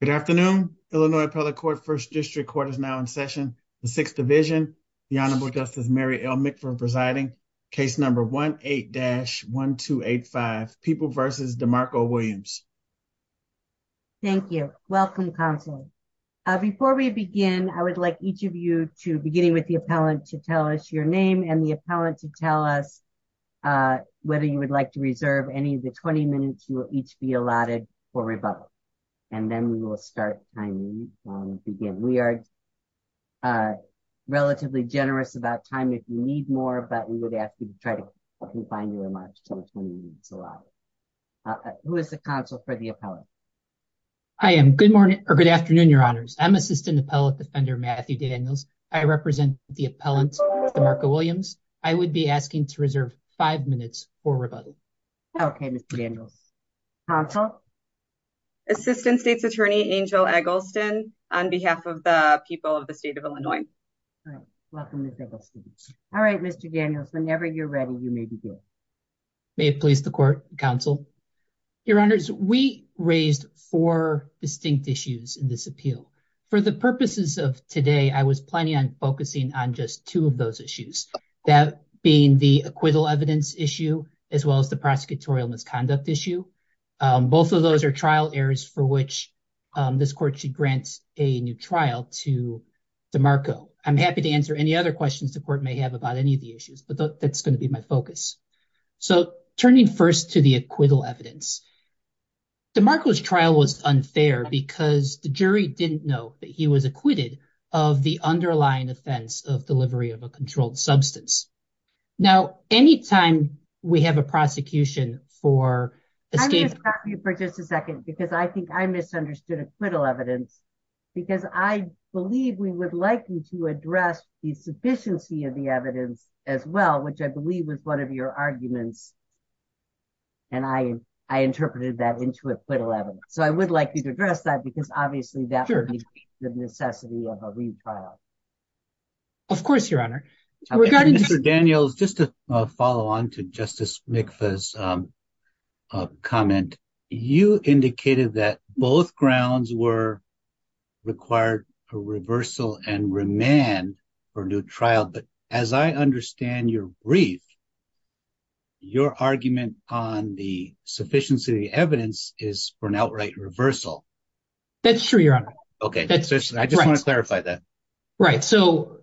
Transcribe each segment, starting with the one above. Good afternoon, Illinois Appellate Court First District Court is now in session. The Sixth Division, the Honorable Justice Mary L. McPherson presiding, case number 18-1285, People v. DeMarco Williams. Thank you. Welcome, Counselor. Before we begin, I would like each of you to, beginning with the appellant, to tell us your name and the appellant to tell us whether you would like to reserve any of the 20 minutes you will each be allotted for rebuttal. And then we will start timing and begin. We are relatively generous about time if you need more, but we would ask you to try to confine your remarks to the 20 minutes allotted. Who is the counsel for the appellant? Good afternoon, Your Honors. I'm Assistant Appellant Defender Matthew Daniels. I represent the appellant, DeMarco Williams. I would be asking to reserve five minutes for rebuttal. Okay, Mr. Daniels. Counsel? Assistant State's Attorney Angel Eggleston on behalf of the people of the state of Illinois. All right. Welcome, Mr. Eggleston. All right, Mr. Daniels, whenever you're ready, you may begin. May it please the Court, Counsel? Your Honors, we raised four distinct issues in this appeal. For the purposes of today, I was planning on focusing on just two of those issues, that being the acquittal evidence issue as well as the prosecutorial misconduct issue. Both of those are trial areas for which this Court should grant a new trial to DeMarco. I'm happy to answer any other questions the Court may have about any of the issues, but that's going to be my focus. So turning first to the acquittal evidence, DeMarco's trial was unfair because the jury didn't know that he was acquitted of the underlying offense of delivery of a controlled substance. Now, any time we have a prosecution for... I'm going to stop you for just a second because I think I misunderstood acquittal evidence because I believe we would like you to address the sufficiency of the evidence as well, which I believe was one of your arguments, and I interpreted that into acquittal evidence. So I would like you to address that. Obviously, that would be the necessity of a retrial. Of course, Your Honor. Mr. Daniels, just to follow on to Justice Mikva's comment, you indicated that both grounds required a reversal and remand for a new trial, but as I understand your brief, your argument on the sufficiency of the evidence is for an outright reversal. That's true, Your Honor. Okay. I just want to clarify that. Right. So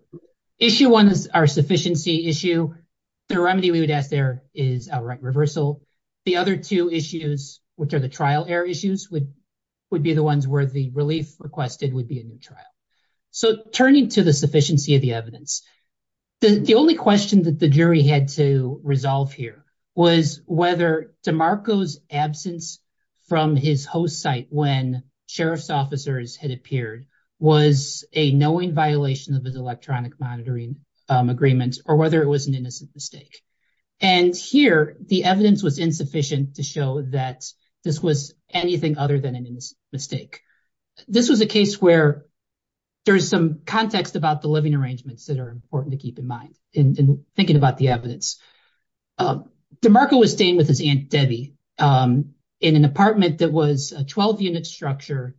issue one is our sufficiency issue. The remedy we would ask there is outright reversal. The other two issues, which are the trial error issues, would be the ones where the relief requested would be a new trial. So turning to the sufficiency of the evidence, the only question that the jury had to when sheriff's officers had appeared was a knowing violation of his electronic monitoring agreement or whether it was an innocent mistake. And here, the evidence was insufficient to show that this was anything other than a mistake. This was a case where there's some context about the living arrangements that are important to keep in mind in thinking about the evidence. DeMarco was staying with his Aunt Debbie in an apartment that was a 12-unit structure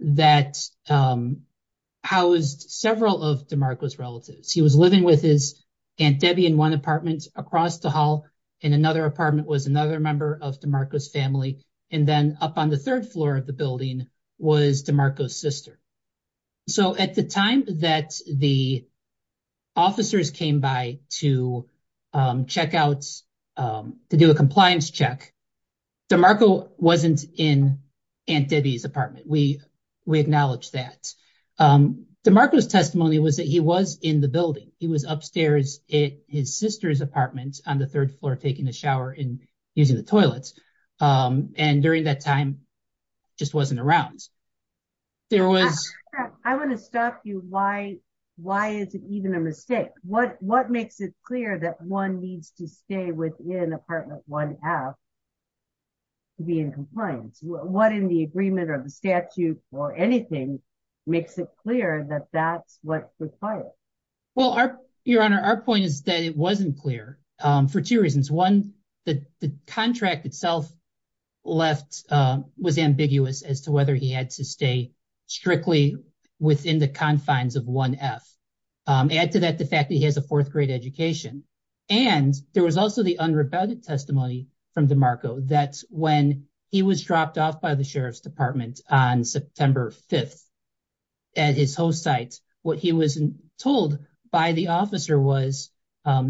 that housed several of DeMarco's relatives. He was living with his Aunt Debbie in one apartment across the hall, in another apartment was another member of DeMarco's family, and then up on the third floor of the building was DeMarco's sister. So at the time that the officers came by to check out, to do a compliance check, DeMarco wasn't in Aunt Debbie's apartment. We acknowledge that. DeMarco's testimony was that he was in the building. He was upstairs at his sister's apartment on the third floor taking a shower and using the toilets. And during that time, just wasn't around. There was... I want to stop you. Why is it even a mistake? What makes it clear that one needs to stay within apartment 1F to be in compliance? What in the agreement or the statute or anything makes it clear that that's what's required? Well, Your Honor, our point is that it wasn't clear for two reasons. One, the contract itself left was ambiguous as to whether he had to stay strictly within the confines of 1F. Add to that the fact that he has a fourth grade education. And there was also the unrebutted testimony from DeMarco that when he was dropped off by the Sheriff's Department on September 5th at his host site, what he was told by the officer was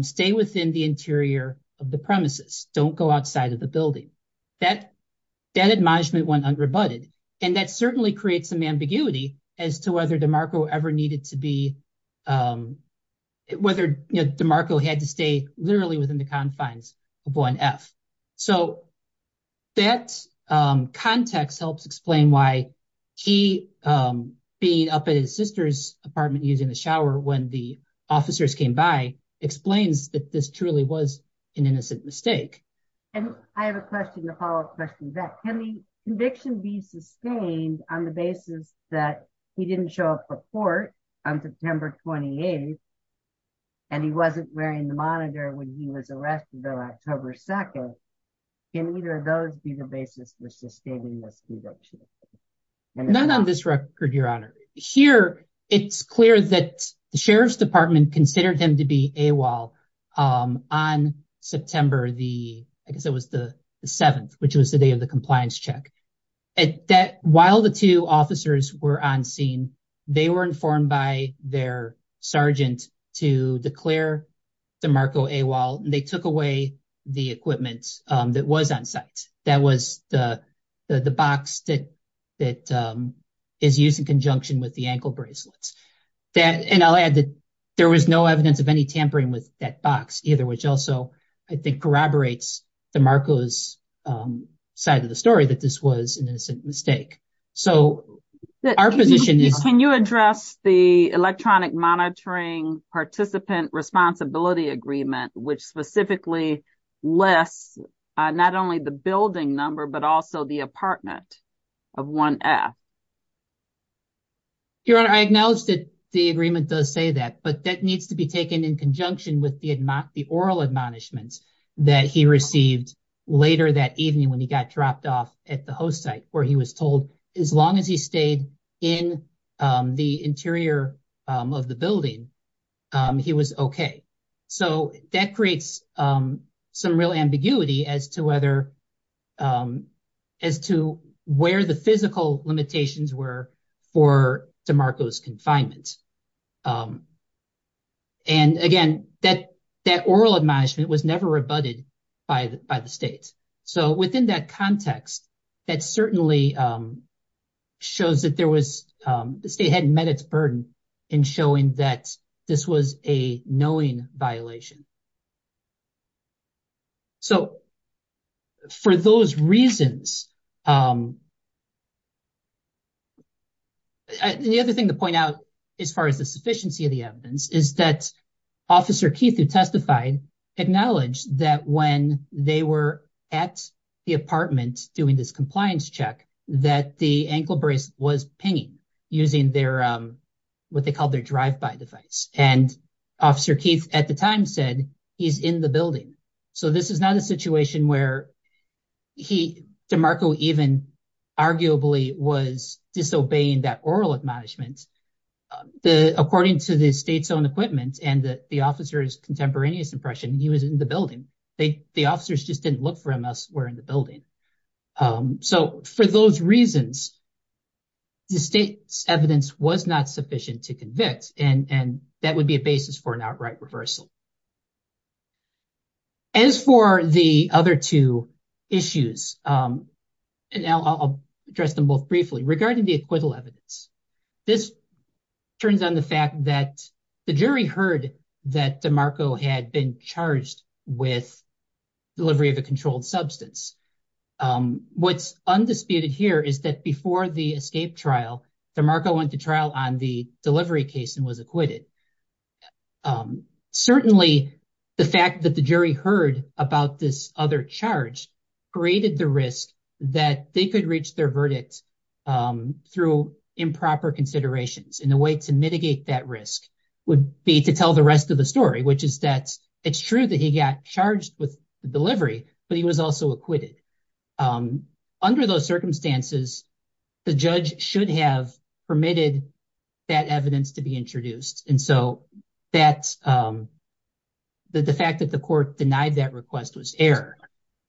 stay within the interior of the premises. Don't go outside of the building. That admonishment went unrebutted. And that was whether DeMarco had to stay literally within the confines of 1F. So that context helps explain why he being up at his sister's apartment using the shower when the officers came by explains that this truly was an innocent mistake. And I have a question to follow up on that. Can the conviction be sustained on the basis that he didn't show up for court on September 28th and he wasn't wearing the monitor when he was arrested on October 2nd? Can either of those be the basis for sustaining this conviction? Not on this record, Your Honor. Here, it's clear that the Sheriff's Department considered him to be AWOL on September the, I guess it was the 7th, which was the day of the compliance check. While the two officers were on scene, they were informed by their sergeant to declare DeMarco AWOL, and they took away the equipment that was on site. That was the box that is used in conjunction with the ankle bracelets. And I'll add that there was no evidence of any tampering with that box either, which also I think corroborates DeMarco's side of the story that this was an innocent mistake. Can you address the Electronic Monitoring Participant Responsibility Agreement, which specifically lists not only the building number, but also the apartment of 1F? Your Honor, I acknowledge that the agreement does say that, but that needs to be taken in that he received later that evening when he got dropped off at the host site, where he was told as long as he stayed in the interior of the building, he was okay. So that creates some real ambiguity as to whether, as to where the physical limitations were for DeMarco's was never rebutted by the state. So within that context, that certainly shows that the state hadn't met its burden in showing that this was a knowing violation. So for those reasons, the other thing to point out as far as the sufficiency of the evidence is that Officer Keith, who testified, acknowledged that when they were at the apartment doing this compliance check, that the ankle brace was pinging using their drive-by device. And Officer Keith at the time said he's in the building. So this is not a situation where DeMarco even arguably was disobeying that oral admonishment. According to the state's own equipment and the officer's contemporaneous impression, he was in the building. The officers just didn't look for him as were in the building. So for those reasons, the state's evidence was not sufficient to convict, and that would be a basis for an outright reversal. As for the other two issues, and now I'll address them both briefly, regarding the fact that the jury heard that DeMarco had been charged with delivery of a controlled substance. What's undisputed here is that before the escape trial, DeMarco went to trial on the delivery case and was acquitted. Certainly, the fact that the jury heard about this other charge created the that they could reach their verdict through improper considerations. And the way to mitigate that risk would be to tell the rest of the story, which is that it's true that he got charged with delivery, but he was also acquitted. Under those circumstances, the judge should have permitted that evidence to be introduced. And so the fact that the court denied that request was error.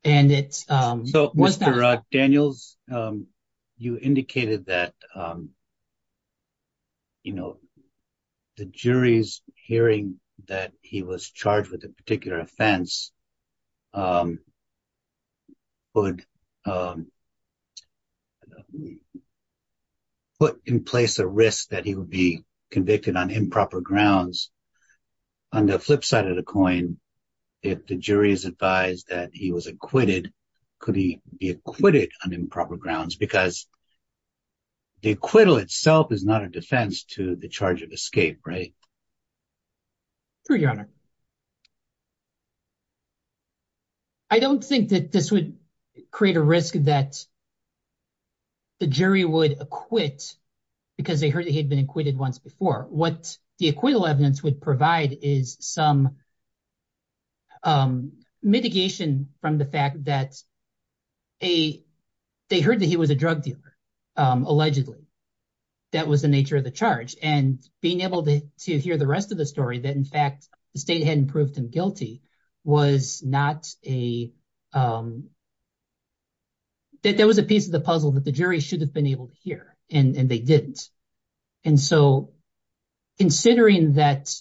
So Mr. Daniels, you indicated that the jury's hearing that he was charged with a particular offense would put in place a risk that he would be convicted on improper grounds. On the flip side of the coin, if the jury is advised that he was acquitted, could he be acquitted on improper grounds? Because the acquittal itself is not a defense to the charge of escape, right? True, Your Honor. I don't think that this would create a risk that the jury would acquit because they heard he'd been acquitted once before. What the acquittal evidence would provide is some mitigation from the fact that they heard that he was a drug dealer, allegedly. That was the nature of the charge. And being able to hear the rest of the story that, in fact, the state hadn't proved him guilty was not a... That was a piece of the puzzle that the jury should have been able to hear, and they didn't. And so, considering that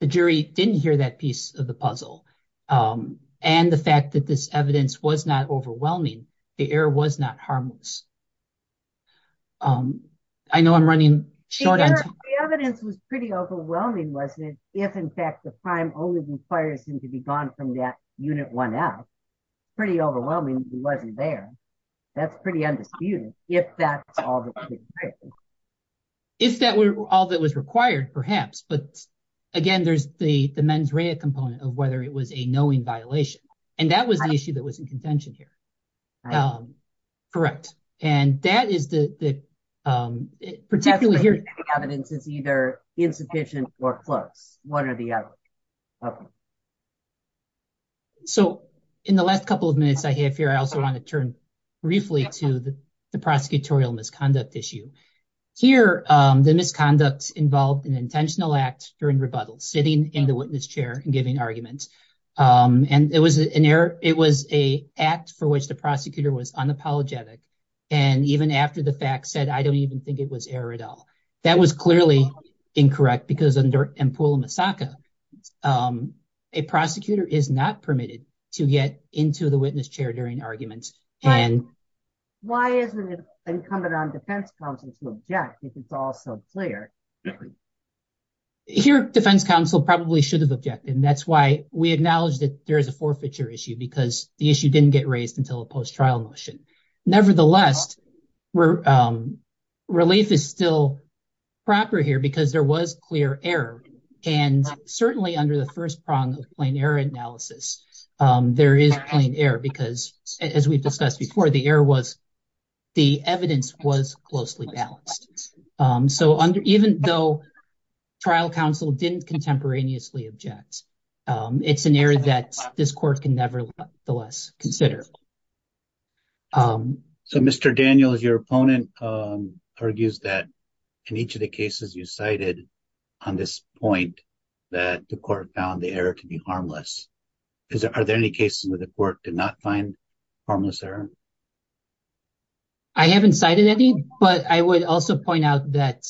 the jury didn't hear that piece of the puzzle, and the fact that this evidence was not overwhelming, the error was not harmless. I know I'm running short on time. The evidence was pretty overwhelming, wasn't it? If, in fact, the crime only requires him to be acquitted. If that were all that was required, perhaps. But, again, there's the mens rea component of whether it was a knowing violation. And that was the issue that was in contention here. Correct. And that is the... Particularly here... The evidence is either insufficient or close, one or the other. So, in the last couple of minutes I have here, I also want to turn briefly to the prosecutorial misconduct issue. Here, the misconduct involved an intentional act during rebuttal, sitting in the witness chair and giving arguments. And it was an error... It was an act for which the prosecutor was unapologetic. And even after the fact said, I don't even think it was error at all. That was clearly incorrect, because under Empula-Masaka, a prosecutor is not permitted to get into the witness chair during arguments. Why isn't it incumbent on defense counsel to object, if it's all so clear? Here, defense counsel probably should have objected. And that's why we acknowledge that there is a forfeiture issue, because the issue didn't get raised until a post-trial motion. Nevertheless, relief is still proper here, because there was clear error. And certainly, under the first prong of plain error analysis, there is plain error, because as we've discussed before, the evidence was closely balanced. So, even though trial counsel didn't contemporaneously object, it's an error that this court can nevertheless consider. So, Mr. Daniels, your opponent argues that in each of the cases you cited on this point, that the court found the error to be harmless. Are there any cases where the court did not find harmless error? I haven't cited any, but I would also point that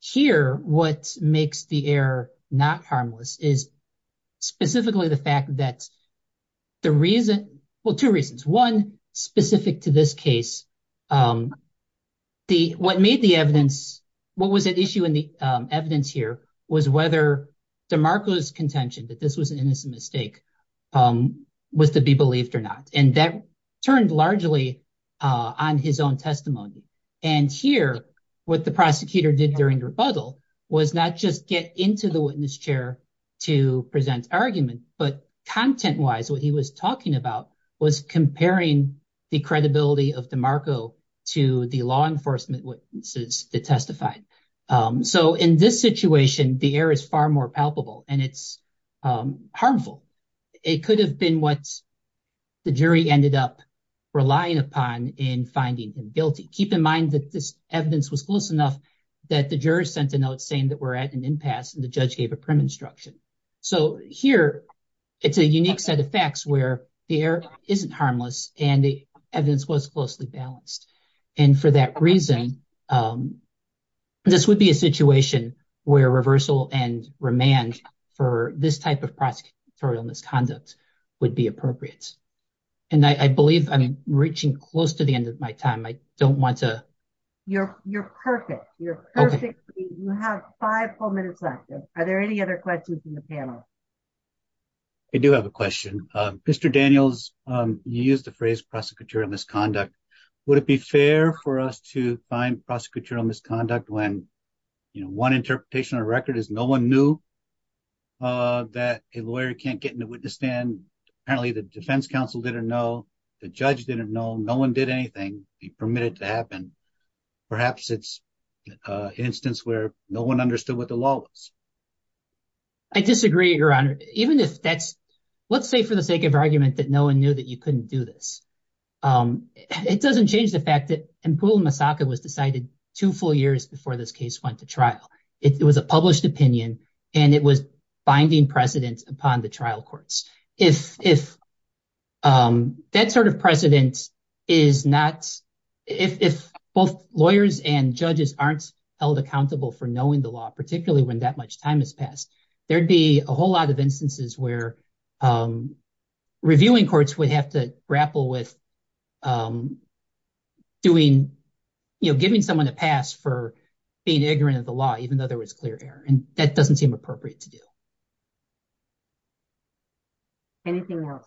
here, what makes the error not harmless is specifically the fact that the reason, well, two reasons. One, specific to this case, what was at issue in the evidence here was whether DeMarco's contention that this was an innocent mistake was to be believed or not. And that did during rebuttal was not just get into the witness chair to present argument, but content wise, what he was talking about was comparing the credibility of DeMarco to the law enforcement witnesses that testified. So, in this situation, the error is far more palpable, and it's harmful. It could have been what the jury ended up relying upon in finding him guilty. Keep in mind that this juror sent a note saying that we're at an impasse and the judge gave a prim instruction. So, here, it's a unique set of facts where the error isn't harmless and the evidence was closely balanced. And for that reason, this would be a situation where reversal and remand for this type of prosecutorial misconduct would be appropriate. And I believe I'm reaching close to the end of my time. I don't want to... You're perfect. You're perfect. You have five more minutes left. Are there any other questions from the panel? I do have a question. Mr. Daniels, you used the phrase prosecutorial misconduct. Would it be fair for us to find prosecutorial misconduct when, you know, one interpretation on the record is no one knew that a lawyer can't get in the witness stand. Apparently, the defense counsel didn't know. The judge didn't know. No one did anything. He permitted it to happen. Perhaps it's an instance where no one understood what the law was. I disagree, Your Honor. Even if that's... Let's say for the sake of argument that no one knew that you couldn't do this. It doesn't change the fact that Empul Masaka was decided two full years before this case went to trial. It was a published opinion and it was binding precedent upon the if that sort of precedent is not... If both lawyers and judges aren't held accountable for knowing the law, particularly when that much time has passed, there'd be a whole lot of instances where reviewing courts would have to grapple with doing, you know, giving someone a pass for being ignorant of the law, even though there was clear error. And that doesn't seem appropriate to you. Anything else?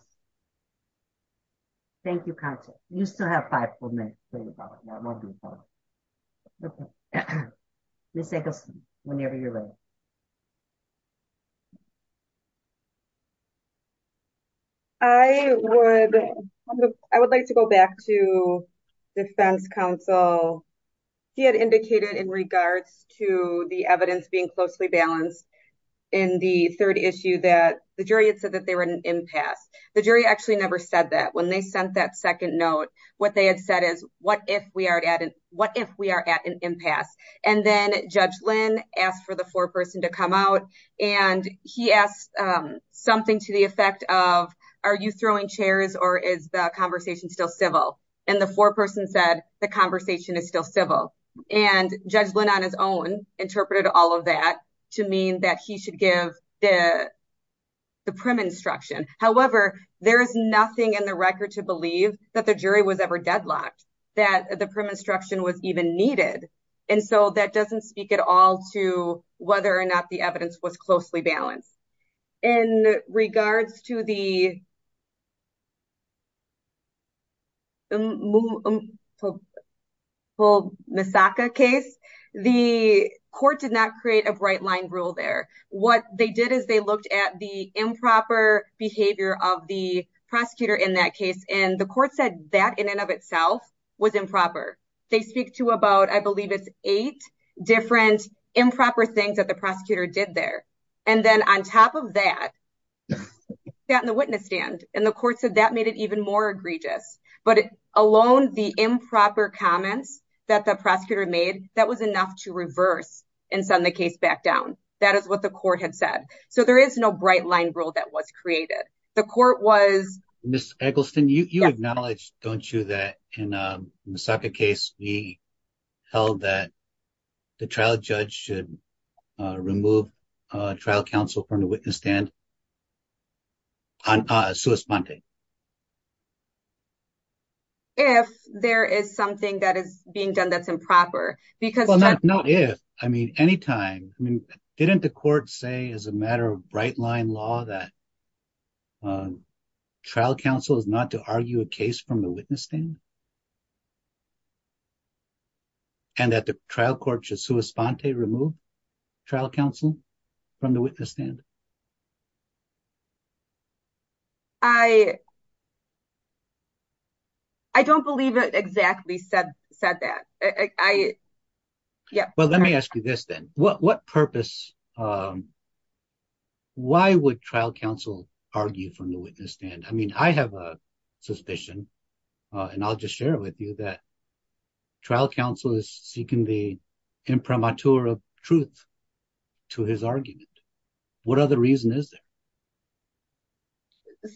Thank you, counsel. You still have five more minutes. Ms. Eggleston, whenever you're ready. I would like to go back to defense counsel. He had indicated in regards to the evidence being closely balanced in the third issue that the jury had said that they were at an impasse. The jury actually never said that. When they sent that second note, what they had said is, what if we are at an impasse? And then Judge Lynn asked for the foreperson to come out and he asked something to the effect of, are you throwing chairs or is the conversation still civil? And the foreperson said, the conversation is still civil. And Judge Lynn on his own interpreted all of that to mean that he should give the prim instruction. However, there is nothing in the record to believe that the jury was ever deadlocked, that the prim instruction was even needed. And so that doesn't speak at all to whether or not the evidence was closely balanced. In regards to the Misaka case, the court did not create a bright line rule there. What they did is they looked at the improper behavior of the prosecutor in that case. And the court said that in and of itself was improper. They speak to about, I believe it's eight different improper things that the prosecutor said. And on top of that, that in the witness stand and the court said that made it even more egregious. But alone the improper comments that the prosecutor made, that was enough to reverse and send the case back down. That is what the court had said. So there is no bright line rule that was created. The court was... Ms. Eggleston, you acknowledge, don't you, that in the trial, a judge should remove a trial counsel from the witness stand? If there is something that is being done that's improper, because... Well, not if. I mean, anytime. I mean, didn't the court say as a matter of bright line law that trial counsel is not to argue a case from the witness stand? And that the trial court should sui sponte, remove trial counsel from the witness stand? I don't believe it exactly said that. Yeah. Well, let me ask you this then. What purpose... Why would trial counsel argue from the witness stand? I mean, I have a suspicion, and I'll just share it with you, that trial counsel is seeking the imprimatur of truth to his argument. What other reason is there?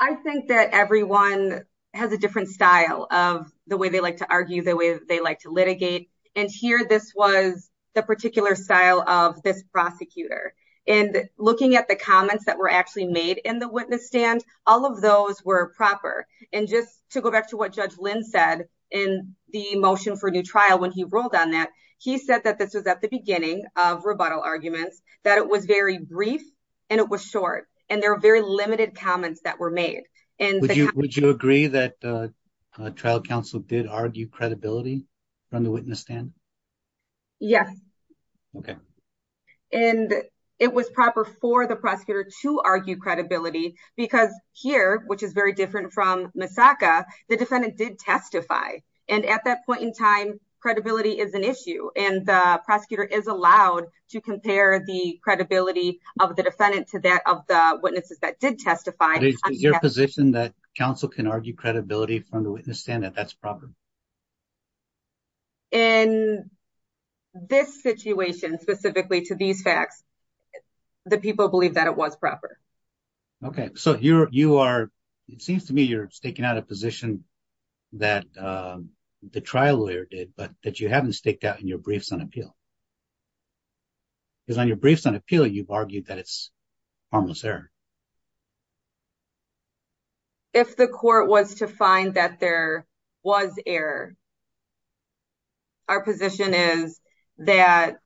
I think that everyone has a different style of the way they like to argue, the way they like to litigate. And here, this was the particular style of this prosecutor. And looking at the proper, and just to go back to what Judge Lynn said in the motion for new trial when he ruled on that, he said that this was at the beginning of rebuttal arguments, that it was very brief, and it was short. And there are very limited comments that were made. And would you agree that trial counsel did argue credibility from the witness stand? Yes. Okay. And it was proper for the prosecutor to argue credibility because here, which is very different from Misaka, the defendant did testify. And at that point in time, credibility is an issue. And the prosecutor is allowed to compare the credibility of the defendant to that of the witnesses that did testify. Is it your position that counsel can argue credibility from the facts that people believe that it was proper? Okay. So, it seems to me you're staking out a position that the trial lawyer did, but that you haven't staked out in your briefs on appeal. Because on your briefs on appeal, you've argued that it's harmless error. If the court was to find that there was error, our position is that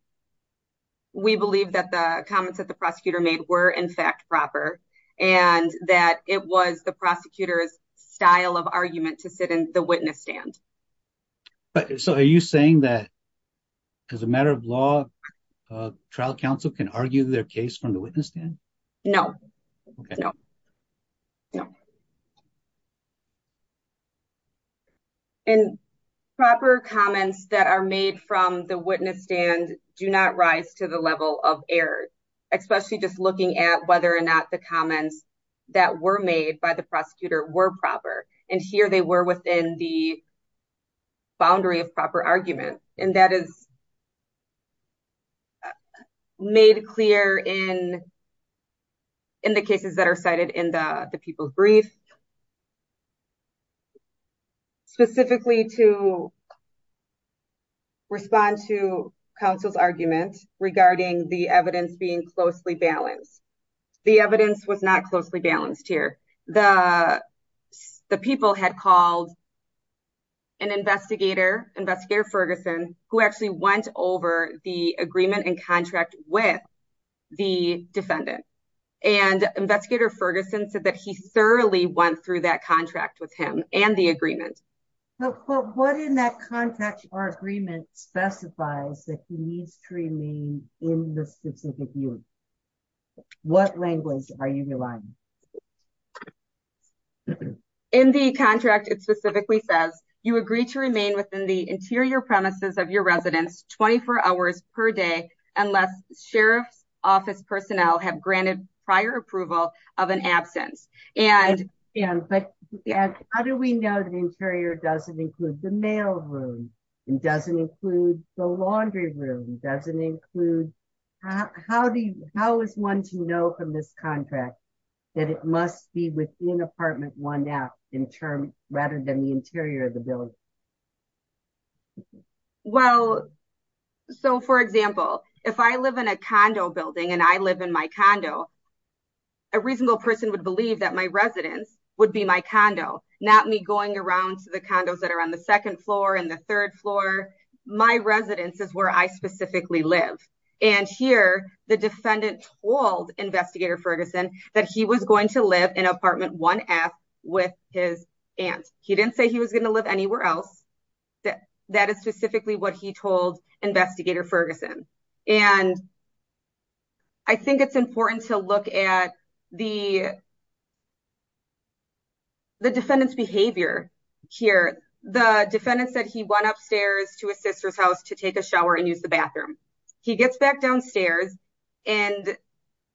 we believe that the comments that the prosecutor made were, in fact, proper, and that it was the prosecutor's style of argument to sit in the witness stand. So, are you saying that, as a matter of law, trial counsel can argue their case from the witness stand? No. No. No. And proper comments that are made from the witness stand do not rise to the level of error, especially just looking at whether or not the comments that were made by the prosecutor were proper. And here, they were within the boundary of proper argument. And that is not made clear in the cases that are cited in the people's briefs, specifically to respond to counsel's argument regarding the evidence being closely balanced. The evidence was not closely balanced here. The people had called an investigator, Investigator Ferguson, who actually went over the agreement and contract with the defendant. And Investigator Ferguson said that he thoroughly went through that contract with him and the agreement. But what in that contract or agreement specifies that he needs to remain in the specific unit? What language are you relying on? In the contract, it specifically says you agree to remain within the interior premises of your residence 24 hours per day unless sheriff's office personnel have granted prior approval of an absence. But how do we know the interior doesn't include the mail room? It doesn't include the laundry room doesn't include? How do you how is one to know from this contract that it must be within apartment one now in term rather than the interior of the building? Well, so for example, if I live in a condo building, and I live in my condo, a reasonable person would believe that my residence would be my condo, not me going around to the condos that are on the second floor and the third floor. My residence is where I specifically live. And here, the defendant told Investigator Ferguson that he was going to live in apartment one F with his aunt, he didn't say he was going to live anywhere else. That that is specifically what he told Investigator Ferguson. And I think it's important to look at the the defendant's behavior here. The defendant said he went upstairs to his sister's house to take a shower and use the bathroom. He gets back downstairs. And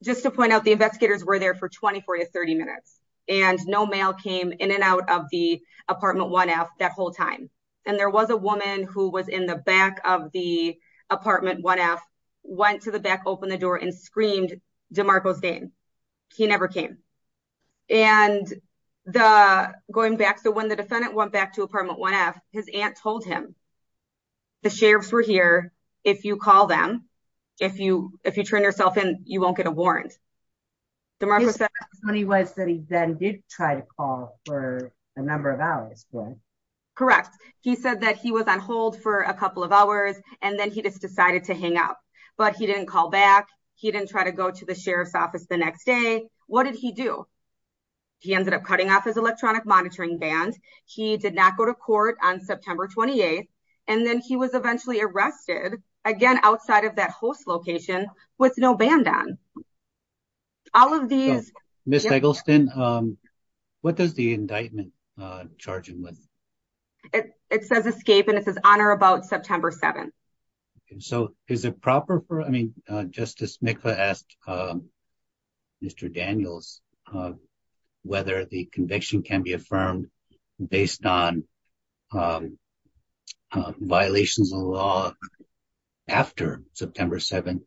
just to point out the investigators were there for 24 to 30 minutes. And no mail came in and out of the apartment one F that whole time. And there was a woman who was in the back of the apartment one F went to the back, open the door and screamed DeMarco's name. He never came. And the going back. So when the defendant went back to apartment one F, his aunt told him, the sheriff's were here. If you call them, if you if you turn yourself in, you won't get a warrant. The money was that he then did try to call for a number of hours. Correct. He said that he was on hold for a couple of hours. And then he just decided to hang up. But he didn't call back. He didn't try to go to the sheriff's office the next day. What did he do? He ended up cutting off his electronic monitoring band. He did not go to court on September 28. And then he was eventually arrested again outside of that host location with no band on all of these Miss Eggleston. What does the indictment charging with? It says escape and it says honor about September 7th. So is it proper for I mean, Justice Mikla asked Mr. Daniels whether the conviction can be affirmed based on violations of law after September 7th.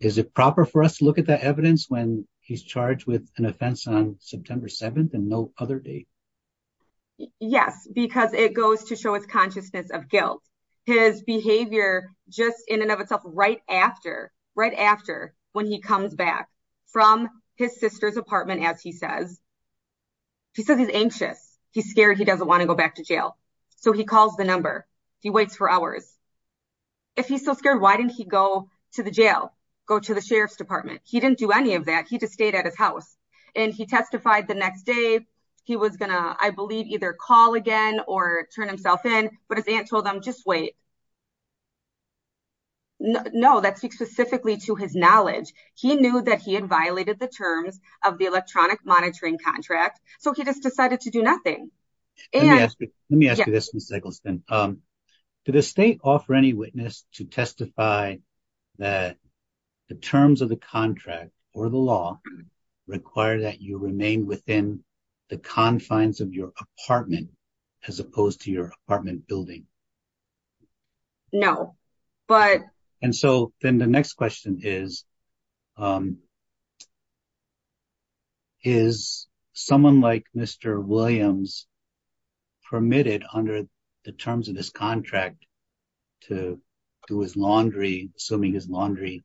Is it proper for us to look at that evidence when he's charged with an offense on September 7th and no other day? Yes, because it goes to show his consciousness of guilt, his behavior, just in and of itself right after right after when he comes back from his sister's apartment, as he says, he says he's anxious, he's scared, he doesn't want to go back to jail. So he calls the number, he waits for hours. If he's so scared, why didn't he go to the jail, go to the sheriff's department, he didn't do any of that. He just stayed at his house. And he testified the next day, he was gonna, I believe, either call again or turn himself in. But his aunt told him just wait. No, that speaks specifically to his knowledge. He knew that he had violated the terms of the electronic monitoring contract. So he just decided to do nothing. Let me ask you this, Miss Eggleston. Did the state offer any witness to testify that the terms of the contract or the law require that you remain within the confines of your apartment, as opposed to your apartment building? No, but... And so then the next question is, is someone like Mr. Williams permitted under the terms of this contract to do his laundry, assuming his laundry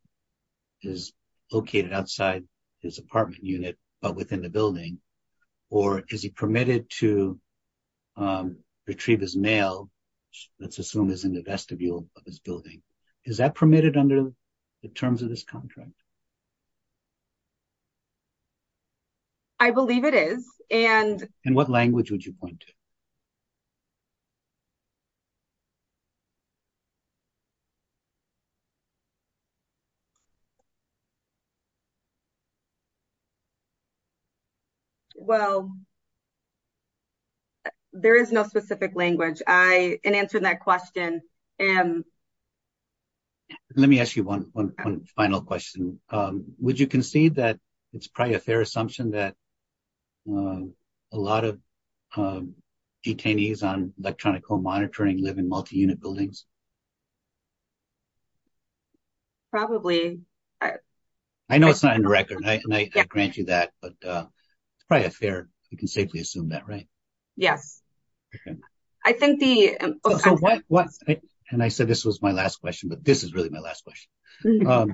is located outside his apartment unit, but within the building? Or is he permitted to retrieve his mail, let's assume is in the vestibule of his building? Is that permitted under the terms of this contract? I believe it is. And... Well, there is no specific language. In answering that question... Let me ask you one final question. Would you concede that it's probably a fair assumption that a lot of detainees on electronic home monitoring live in multi-unit buildings? Probably. I know it's not in the record and I grant you that, but it's probably a fair, you can safely assume that, right? Yes. I think the... And I said this was my last question, but this is really my last question.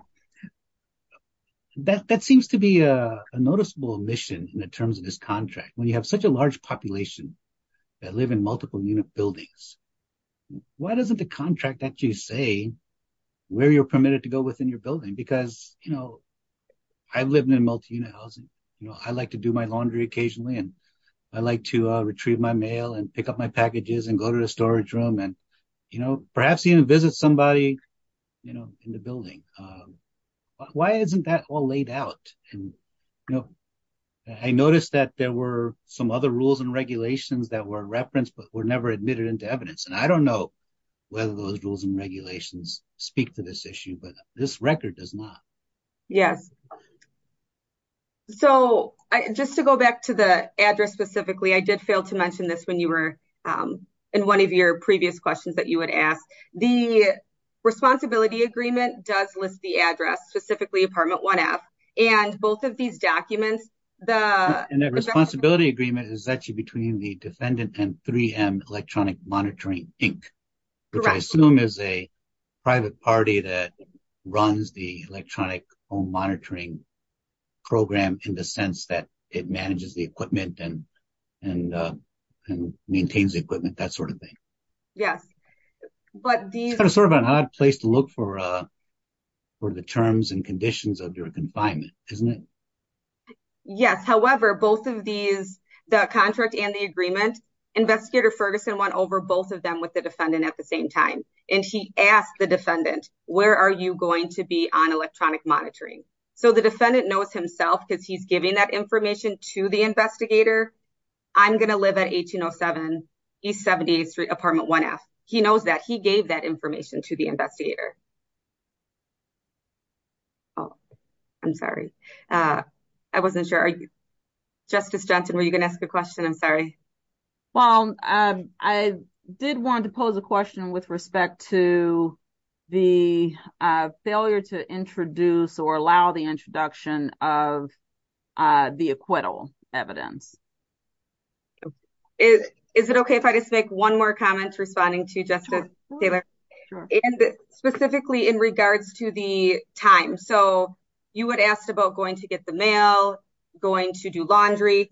That seems to be a noticeable omission in the terms of this contract. When you have such a large population that live in multiple unit buildings, why doesn't the contract actually say where you're permitted to go within your building? Because I've lived in multi-unit housing. I like to do my laundry occasionally and I like to retrieve my mail and pick up my packages and go to the storage room and perhaps even visit somebody in the building. Why isn't that all laid out? I noticed that there were some other rules and regulations that were referenced, but were never admitted into evidence. And I don't know whether those rules and regulations speak to this issue, but this record does not. Yes. So, just to go back to the address specifically, I did fail to mention this when you were in one of your previous questions that you had asked. The responsibility agreement does list the address, specifically apartment 1F. And both of these documents, the... And that responsibility agreement is actually between the defendant and 3M Electronic Monitoring, Inc. Correct. Which I assume is a private party that runs the electronic home monitoring program in the sense that it manages the equipment and maintains the equipment, that sort of thing. Yes. But these... Sort of an odd place to look for the terms and conditions of your confinement, isn't it? Yes. However, both of these, the contract and the agreement, Investigator Ferguson went over both of them with the defendant at the same time. And he asked the defendant, where are you going to be on electronic monitoring? So, the defendant knows himself because he's giving that information to the investigator. I'm going to live at 1807 East 78th Street, apartment 1F. He knows that. He gave that information to the investigator. Oh, I'm sorry. I wasn't sure. Justice Johnson, were you going to ask a question? I'm sorry. Well, I did want to pose a question with respect to the failure to introduce or allow the introduction of the acquittal evidence. Is it okay if I just make one more comment responding to Justice Taylor? Sure. And specifically in regards to the time. So, you had asked about going to get the mail, going to do laundry.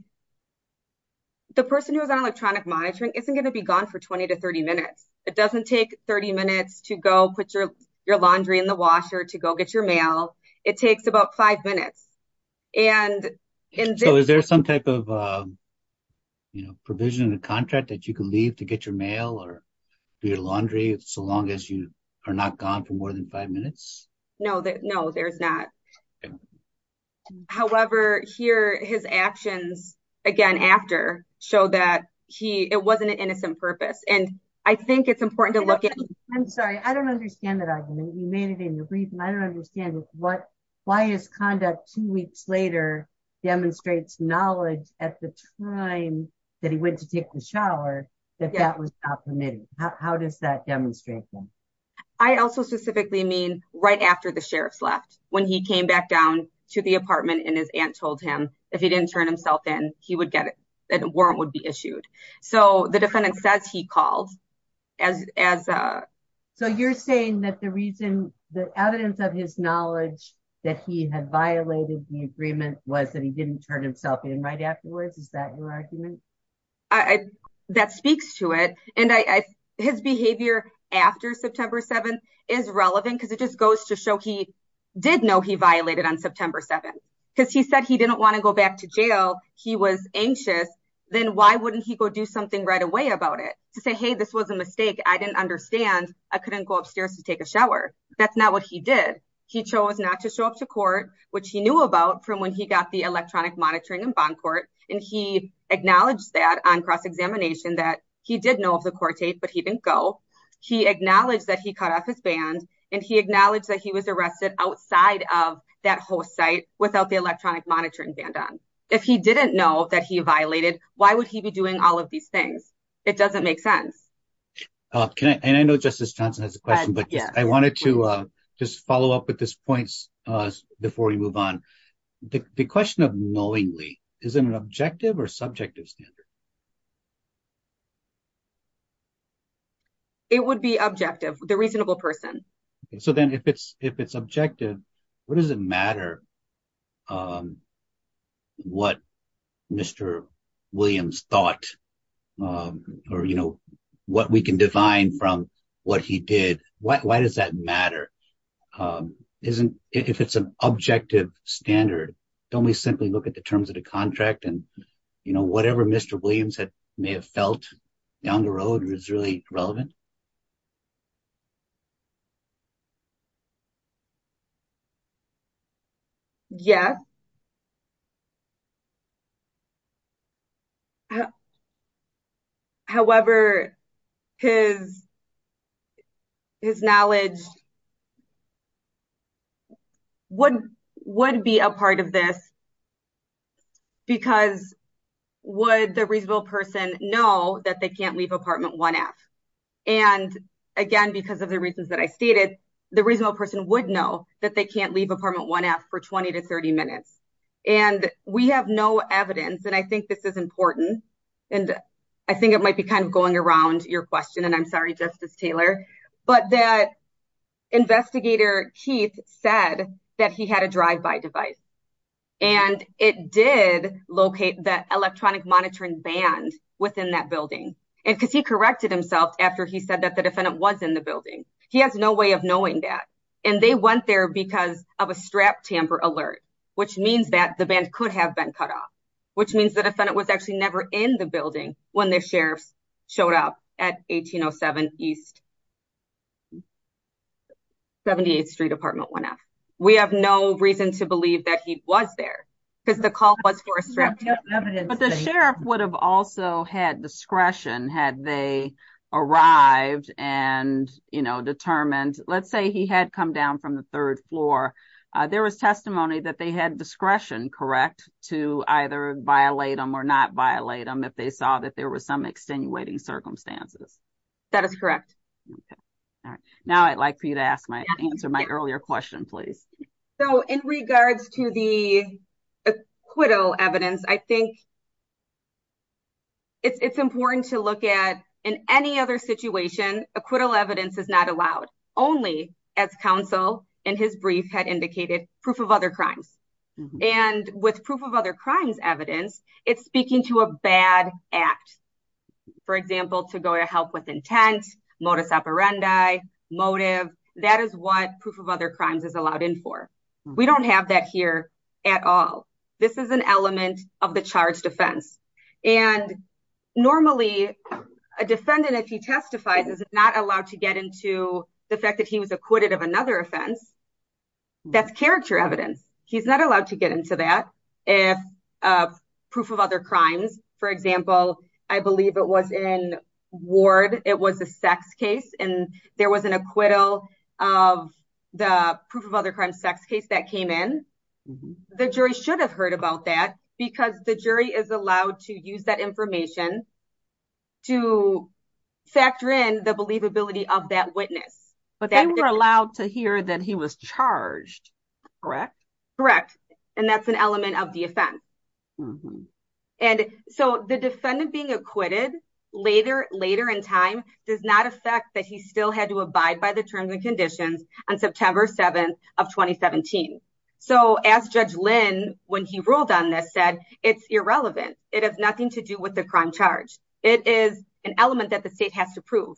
The person who is on electronic monitoring isn't going to be gone for 20 to 30 minutes. It doesn't take 30 minutes to go put your laundry in the washer, to go get your mail. It takes about five minutes. So, is there some type of provision in the contract that you can leave to get your mail or do your laundry so long as you are not gone for more than five minutes? No, there's not. However, here, his actions again after show that it wasn't an innocent purpose. And I think it's important to look at... I'm sorry. I don't understand that argument. You made it in your brief, and I don't understand why his conduct two weeks later demonstrates knowledge at the time that he went to take the shower that that was not permitted. How does that demonstrate that? I also specifically mean right after the sheriff's left, when he came back down to the apartment and his aunt told him if he didn't turn himself in, that a warrant would be issued. So, the defendant says he called as a... So, you're saying that the reason, the evidence of his knowledge that he had violated the agreement was that he didn't turn himself in right afterwards? Is that your argument? That speaks to it. And his behavior after September 7th is relevant because it just goes to show he did know he violated on September 7th. Because he said he didn't want to go back to jail. He was anxious. Then why wouldn't he go do something right away about it? To say, hey, this was a mistake. I didn't understand. I couldn't go upstairs to take a shower. That's not what he did. He chose not to show up to court, which he knew about from when he got the electronic monitoring in bond court. And he acknowledged that on cross-examination that he did know of the court date, but he didn't go. He acknowledged that he cut off his band, and he acknowledged that he was arrested outside of that host site without the electronic monitoring band on. If he didn't know that he violated, why would he be doing all of these things? It doesn't make sense. And I know Justice Johnson has a question, but I wanted to just follow up with this point before we move on. The question of knowingly, is it an objective or subjective standard? It would be objective, the reasonable person. So, then if it's objective, what does matter what Mr. Williams thought or what we can define from what he did? Why does that matter? If it's an objective standard, don't we simply look at the terms of the contract and whatever Mr. Williams may have felt down the road was really relevant? Yes. However, his knowledge would be a part of this because would the reasonable person know that they can't leave apartment 1F? And again, because of the reasons that I stated, the reasonable person would know that they can't leave apartment 1F for 20 to 30 minutes. And we have no evidence. And I think this is important. And I think it might be kind of going around your question, and I'm sorry, Justice Taylor, but that investigator Keith said that he had a drive-by device and it did locate the electronic monitoring band within that building. And because he corrected himself after he said that the defendant was in the building. He has no way of knowing that. And they went there because of a strap tamper alert, which means that the band could have been cut off, which means the defendant was actually never in the building when the sheriffs showed up at 1807 East 78th Street, apartment 1F. We have no reason to believe that he was there because the call was for a strap tamper. But the sheriff would have also had discretion had they arrived and determined, let's say he had come down from the third floor. There was testimony that they had discretion, correct, to either violate them or not violate them if they saw that there was some extenuating circumstances. That is correct. Now I'd like for you to answer my earlier question, please. So in regards to the acquittal evidence, I think it's important to look at in any other situation, acquittal evidence is not allowed only as counsel in his brief had indicated proof of other crimes. And with proof of other crimes evidence, it's speaking to a bad act. For example, to go to help with intent, modus operandi, motive, that is what proof of other crimes is allowed in for. We don't have that here at all. This is an element of the charged offense. And normally a defendant, if he testifies, is not allowed to get into the fact that he was acquitted of another offense. That's character evidence. He's not allowed to get into that. If proof of other crimes, for example, I believe it was in ward, it was a sex case and there was an acquittal of the proof of other crimes sex case that came in. The jury should have heard about that because the jury is allowed to use that information to factor in the believability of that witness. But they were allowed to hear that he was charged, correct? Correct. And that's an element of the offense. Mm-hmm. And so the defendant being acquitted later in time does not affect that he still had to abide by the terms and conditions on September 7th of 2017. So as Judge Lynn, when he ruled on this said, it's irrelevant. It has nothing to do with the crime charge. It is an element that the state has to prove.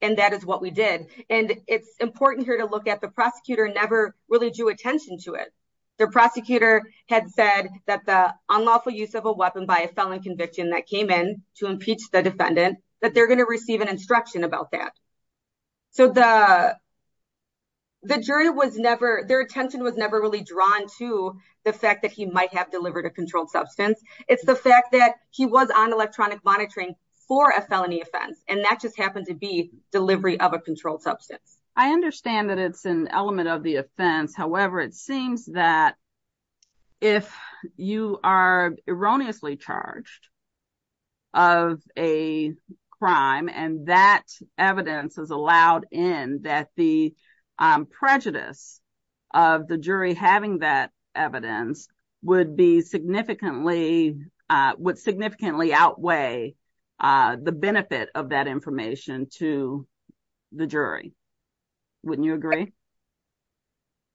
And that is what we did. And it's important here to look at the prosecutor never really drew attention to it. The prosecutor had said that the unlawful use of a weapon by a felon conviction that came in to impeach the defendant, that they're going to receive an instruction about that. So the jury was never, their attention was never really drawn to the fact that he might have delivered a controlled substance. It's the fact that he was on electronic monitoring for a felony offense. And that just happened to be delivery of a controlled substance. I understand that it's an element of the offense. However, it seems that if you are erroneously charged of a crime and that evidence is allowed in that the prejudice of the jury having that evidence would be significantly, would significantly outweigh the benefit of that information to the jury. Wouldn't you agree?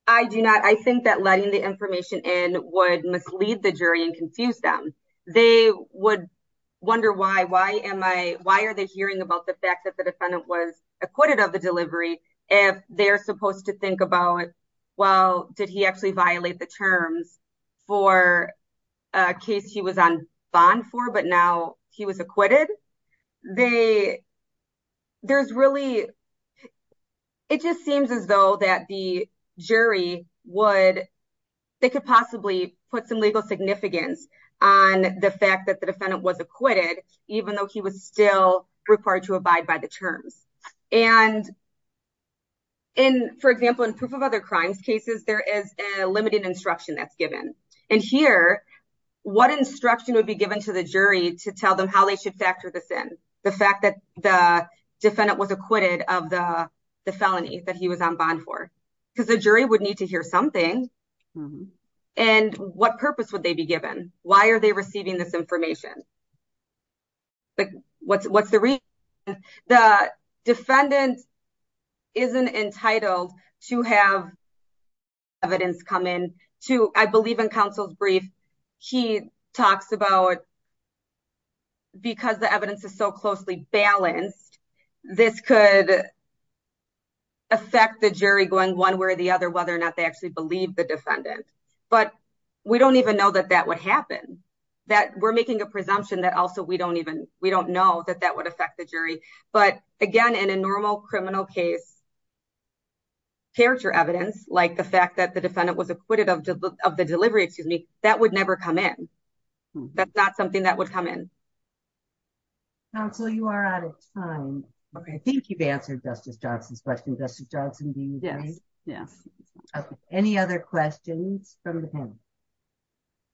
I do not. I think that letting the information in would mislead the jury and confuse them. They would wonder why, why am I, why are they hearing about the fact that the defendant was acquitted of the delivery if they're supposed to think about, well, did he actually violate the terms for a case he was on bond for, but now he was acquitted? There's really, it just seems as though that the jury would, they could possibly put some legal significance on the fact that the defendant was acquitted, even though he was still required to abide by the terms. And in, for example, in proof of other crimes cases, there is a limited instruction that's given. And here, what instruction would be given to the jury to tell them how they should factor this in? The fact that the defendant was acquitted of the felony that he was on bond for, because the jury would need to hear something. And what purpose would they be given? Why are receiving this information? What's the reason? The defendant isn't entitled to have evidence come in to, I believe in counsel's brief, he talks about because the evidence is so closely balanced, this could affect the jury going one way or the other, whether or not they actually believe the that we're making a presumption that also, we don't even, we don't know that that would affect the jury, but again, in a normal criminal case, character evidence, like the fact that the defendant was acquitted of the delivery, excuse me, that would never come in. That's not something that would come in. Counsel, you are out of time. I think you've answered Justice Johnson's Yeah. Okay. Any other questions from the panel?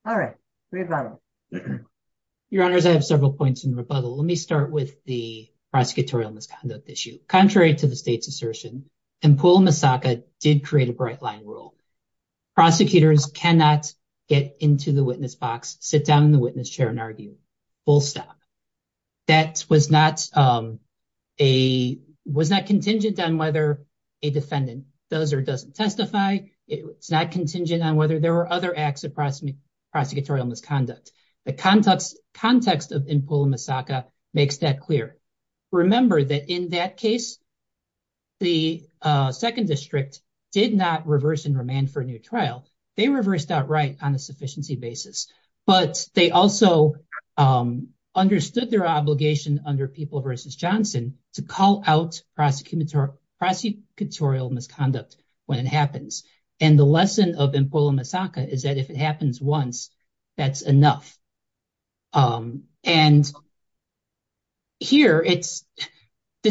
All right. Rebuttal. Your honors, I have several points in rebuttal. Let me start with the prosecutorial misconduct issue. Contrary to the state's assertion, Empul and Misaka did create a bright line rule. Prosecutors cannot get into the witness box, sit down in the witness chair and argue, full stop. That was not contingent on whether a defendant does or doesn't testify. It's not contingent on whether there were other acts of prosecutorial misconduct. The context of Empul and Misaka makes that clear. Remember that in that case, the second district did not reverse remand for a new trial. They reversed outright on a sufficiency basis, but they also understood their obligation under People v. Johnson to call out prosecutorial misconduct when it happens. And the lesson of Empul and Misaka is that if it happens once, that's enough. And here, this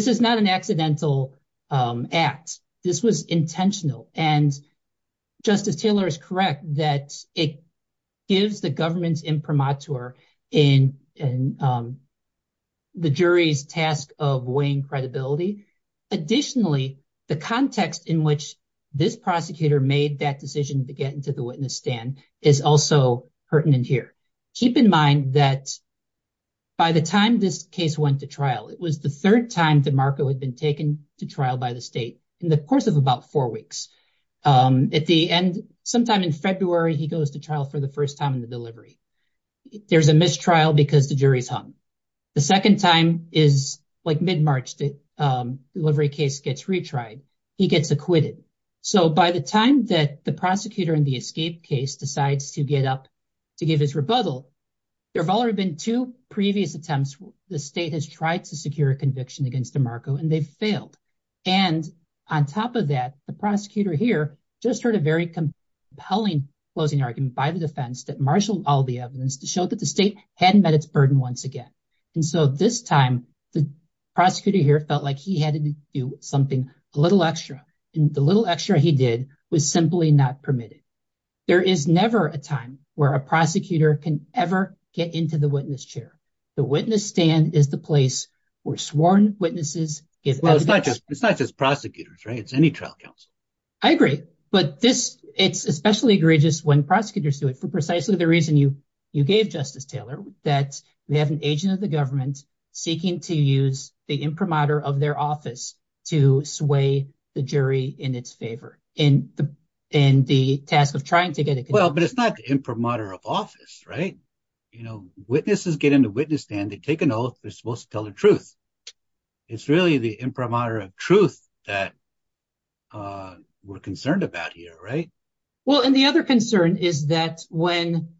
is not an accidental act. This was intentional. And Justice Taylor is correct that it gives the government's imprimatur in the jury's task of weighing credibility. Additionally, the context in which this prosecutor made that decision to get into the witness stand is also pertinent here. Keep in mind that by the time this case went to trial, it was the third time DeMarco had been taken to trial by the state in the course of about four weeks. At the end, sometime in February, he goes to trial for the first time in the delivery. There's a mistrial because the jury's hung. The second time is like mid-March, the delivery case gets retried. He gets acquitted. So by the time that the prosecutor in the escape case decides to get up to give his rebuttal, there have already been two previous attempts where the state has tried to secure a conviction against DeMarco, and they've failed. And on top of that, the prosecutor here just heard a very compelling closing argument by the defense that marshaled all the evidence to show that the state hadn't met its burden once again. And so this time, the prosecutor here felt like he had to do something a little extra, and the little extra he did was simply not permitted. There is never a time where a prosecutor can ever get into the witness chair. The witness stand is the place where sworn witnesses give evidence. It's not just prosecutors, right? It's any trial counsel. I agree, but it's especially egregious when prosecutors do it for precisely the reason you gave, Justice Taylor, that we have an agent of the government seeking to use the imprimatur of their office to sway the jury in its favor, in the task of trying to get a conviction. Well, but it's not the imprimatur of office, right? You know, witnesses get in the witness stand, they take an oath, they're supposed to tell the truth. It's really the imprimatur of truth that we're concerned about here, right? Well, and the other concern is that when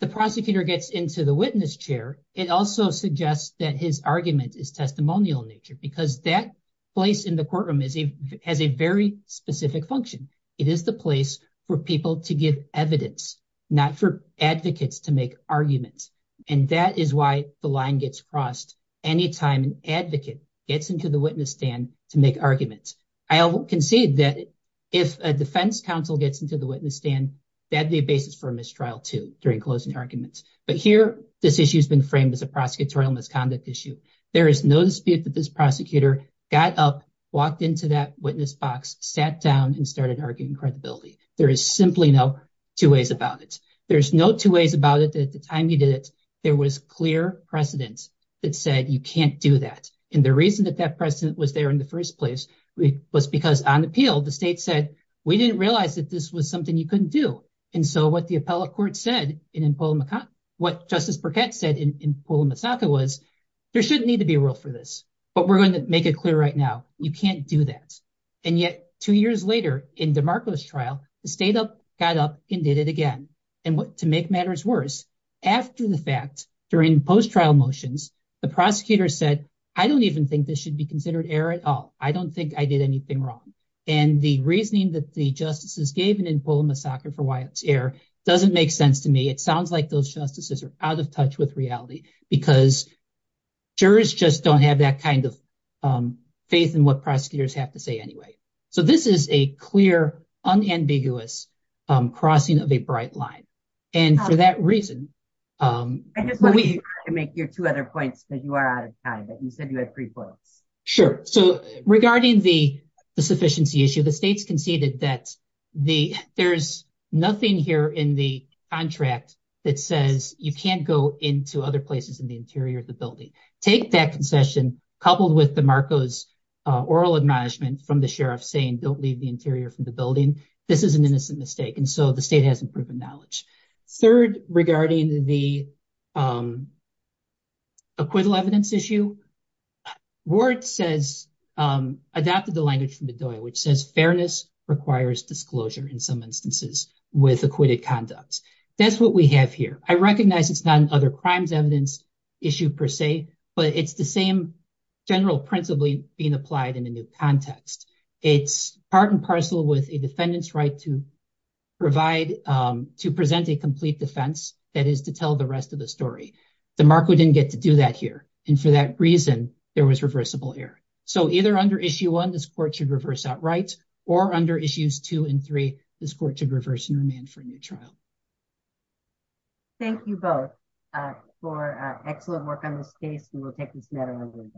the prosecutor gets into the witness chair, it also suggests that his argument is testimonial in nature, because that place in the courtroom has a very specific function. It is the place for people to give evidence, not for advocates to make arguments, and that is why the line gets crossed any time an advocate gets into the witness stand to make arguments. I concede that if a defense counsel gets into the witness stand, that'd be a trial too, during closing arguments. But here, this issue has been framed as a prosecutorial misconduct issue. There is no dispute that this prosecutor got up, walked into that witness box, sat down, and started arguing credibility. There is simply no two ways about it. There's no two ways about it that at the time you did it, there was clear precedent that said you can't do that. And the reason that that precedent was there in the first place was because on appeal, the state said we didn't realize that this was something you couldn't do. And so what the appellate court said what Justice Burkett said in Pula Masaka was, there shouldn't need to be a rule for this, but we're going to make it clear right now, you can't do that. And yet, two years later, in DeMarco's trial, the state got up and did it again. And to make matters worse, after the fact, during post-trial motions, the prosecutor said, I don't even think this should be considered error at all. I don't think I did anything wrong. And the reasoning that the justices gave in Pula Masaka for Wyatt's error doesn't make sense to me. It sounds like those justices are out of touch with reality, because jurors just don't have that kind of faith in what prosecutors have to say anyway. So this is a clear, unambiguous crossing of a bright line. And for that reason... I just want to make your two other points, because you are out of time, you said you had three points. Sure. So regarding the sufficiency issue, the state's conceded that there's nothing here in the contract that says you can't go into other places in the interior of the building. Take that concession, coupled with DeMarco's oral acknowledgement from the sheriff saying don't leave the interior from the building. This is an innocent mistake. And so the state hasn't proven knowledge. Third, regarding the acquittal evidence issue, Ward adopted the language from the DOI, which says fairness requires disclosure in some instances with acquitted conducts. That's what we have here. I recognize it's not an other crimes evidence issue per se, but it's the same general principle being applied in a new context. It's part and parcel with a defendant's right to present a complete defense, that is to tell the rest of the story. DeMarco didn't get to do that here. And for that reason, there was reversible error. So either under issue one, this court should reverse outright, or under issues two and three, this court should reverse and remand for a new trial. Thank you both for excellent work on this case, and we'll take this matter under review.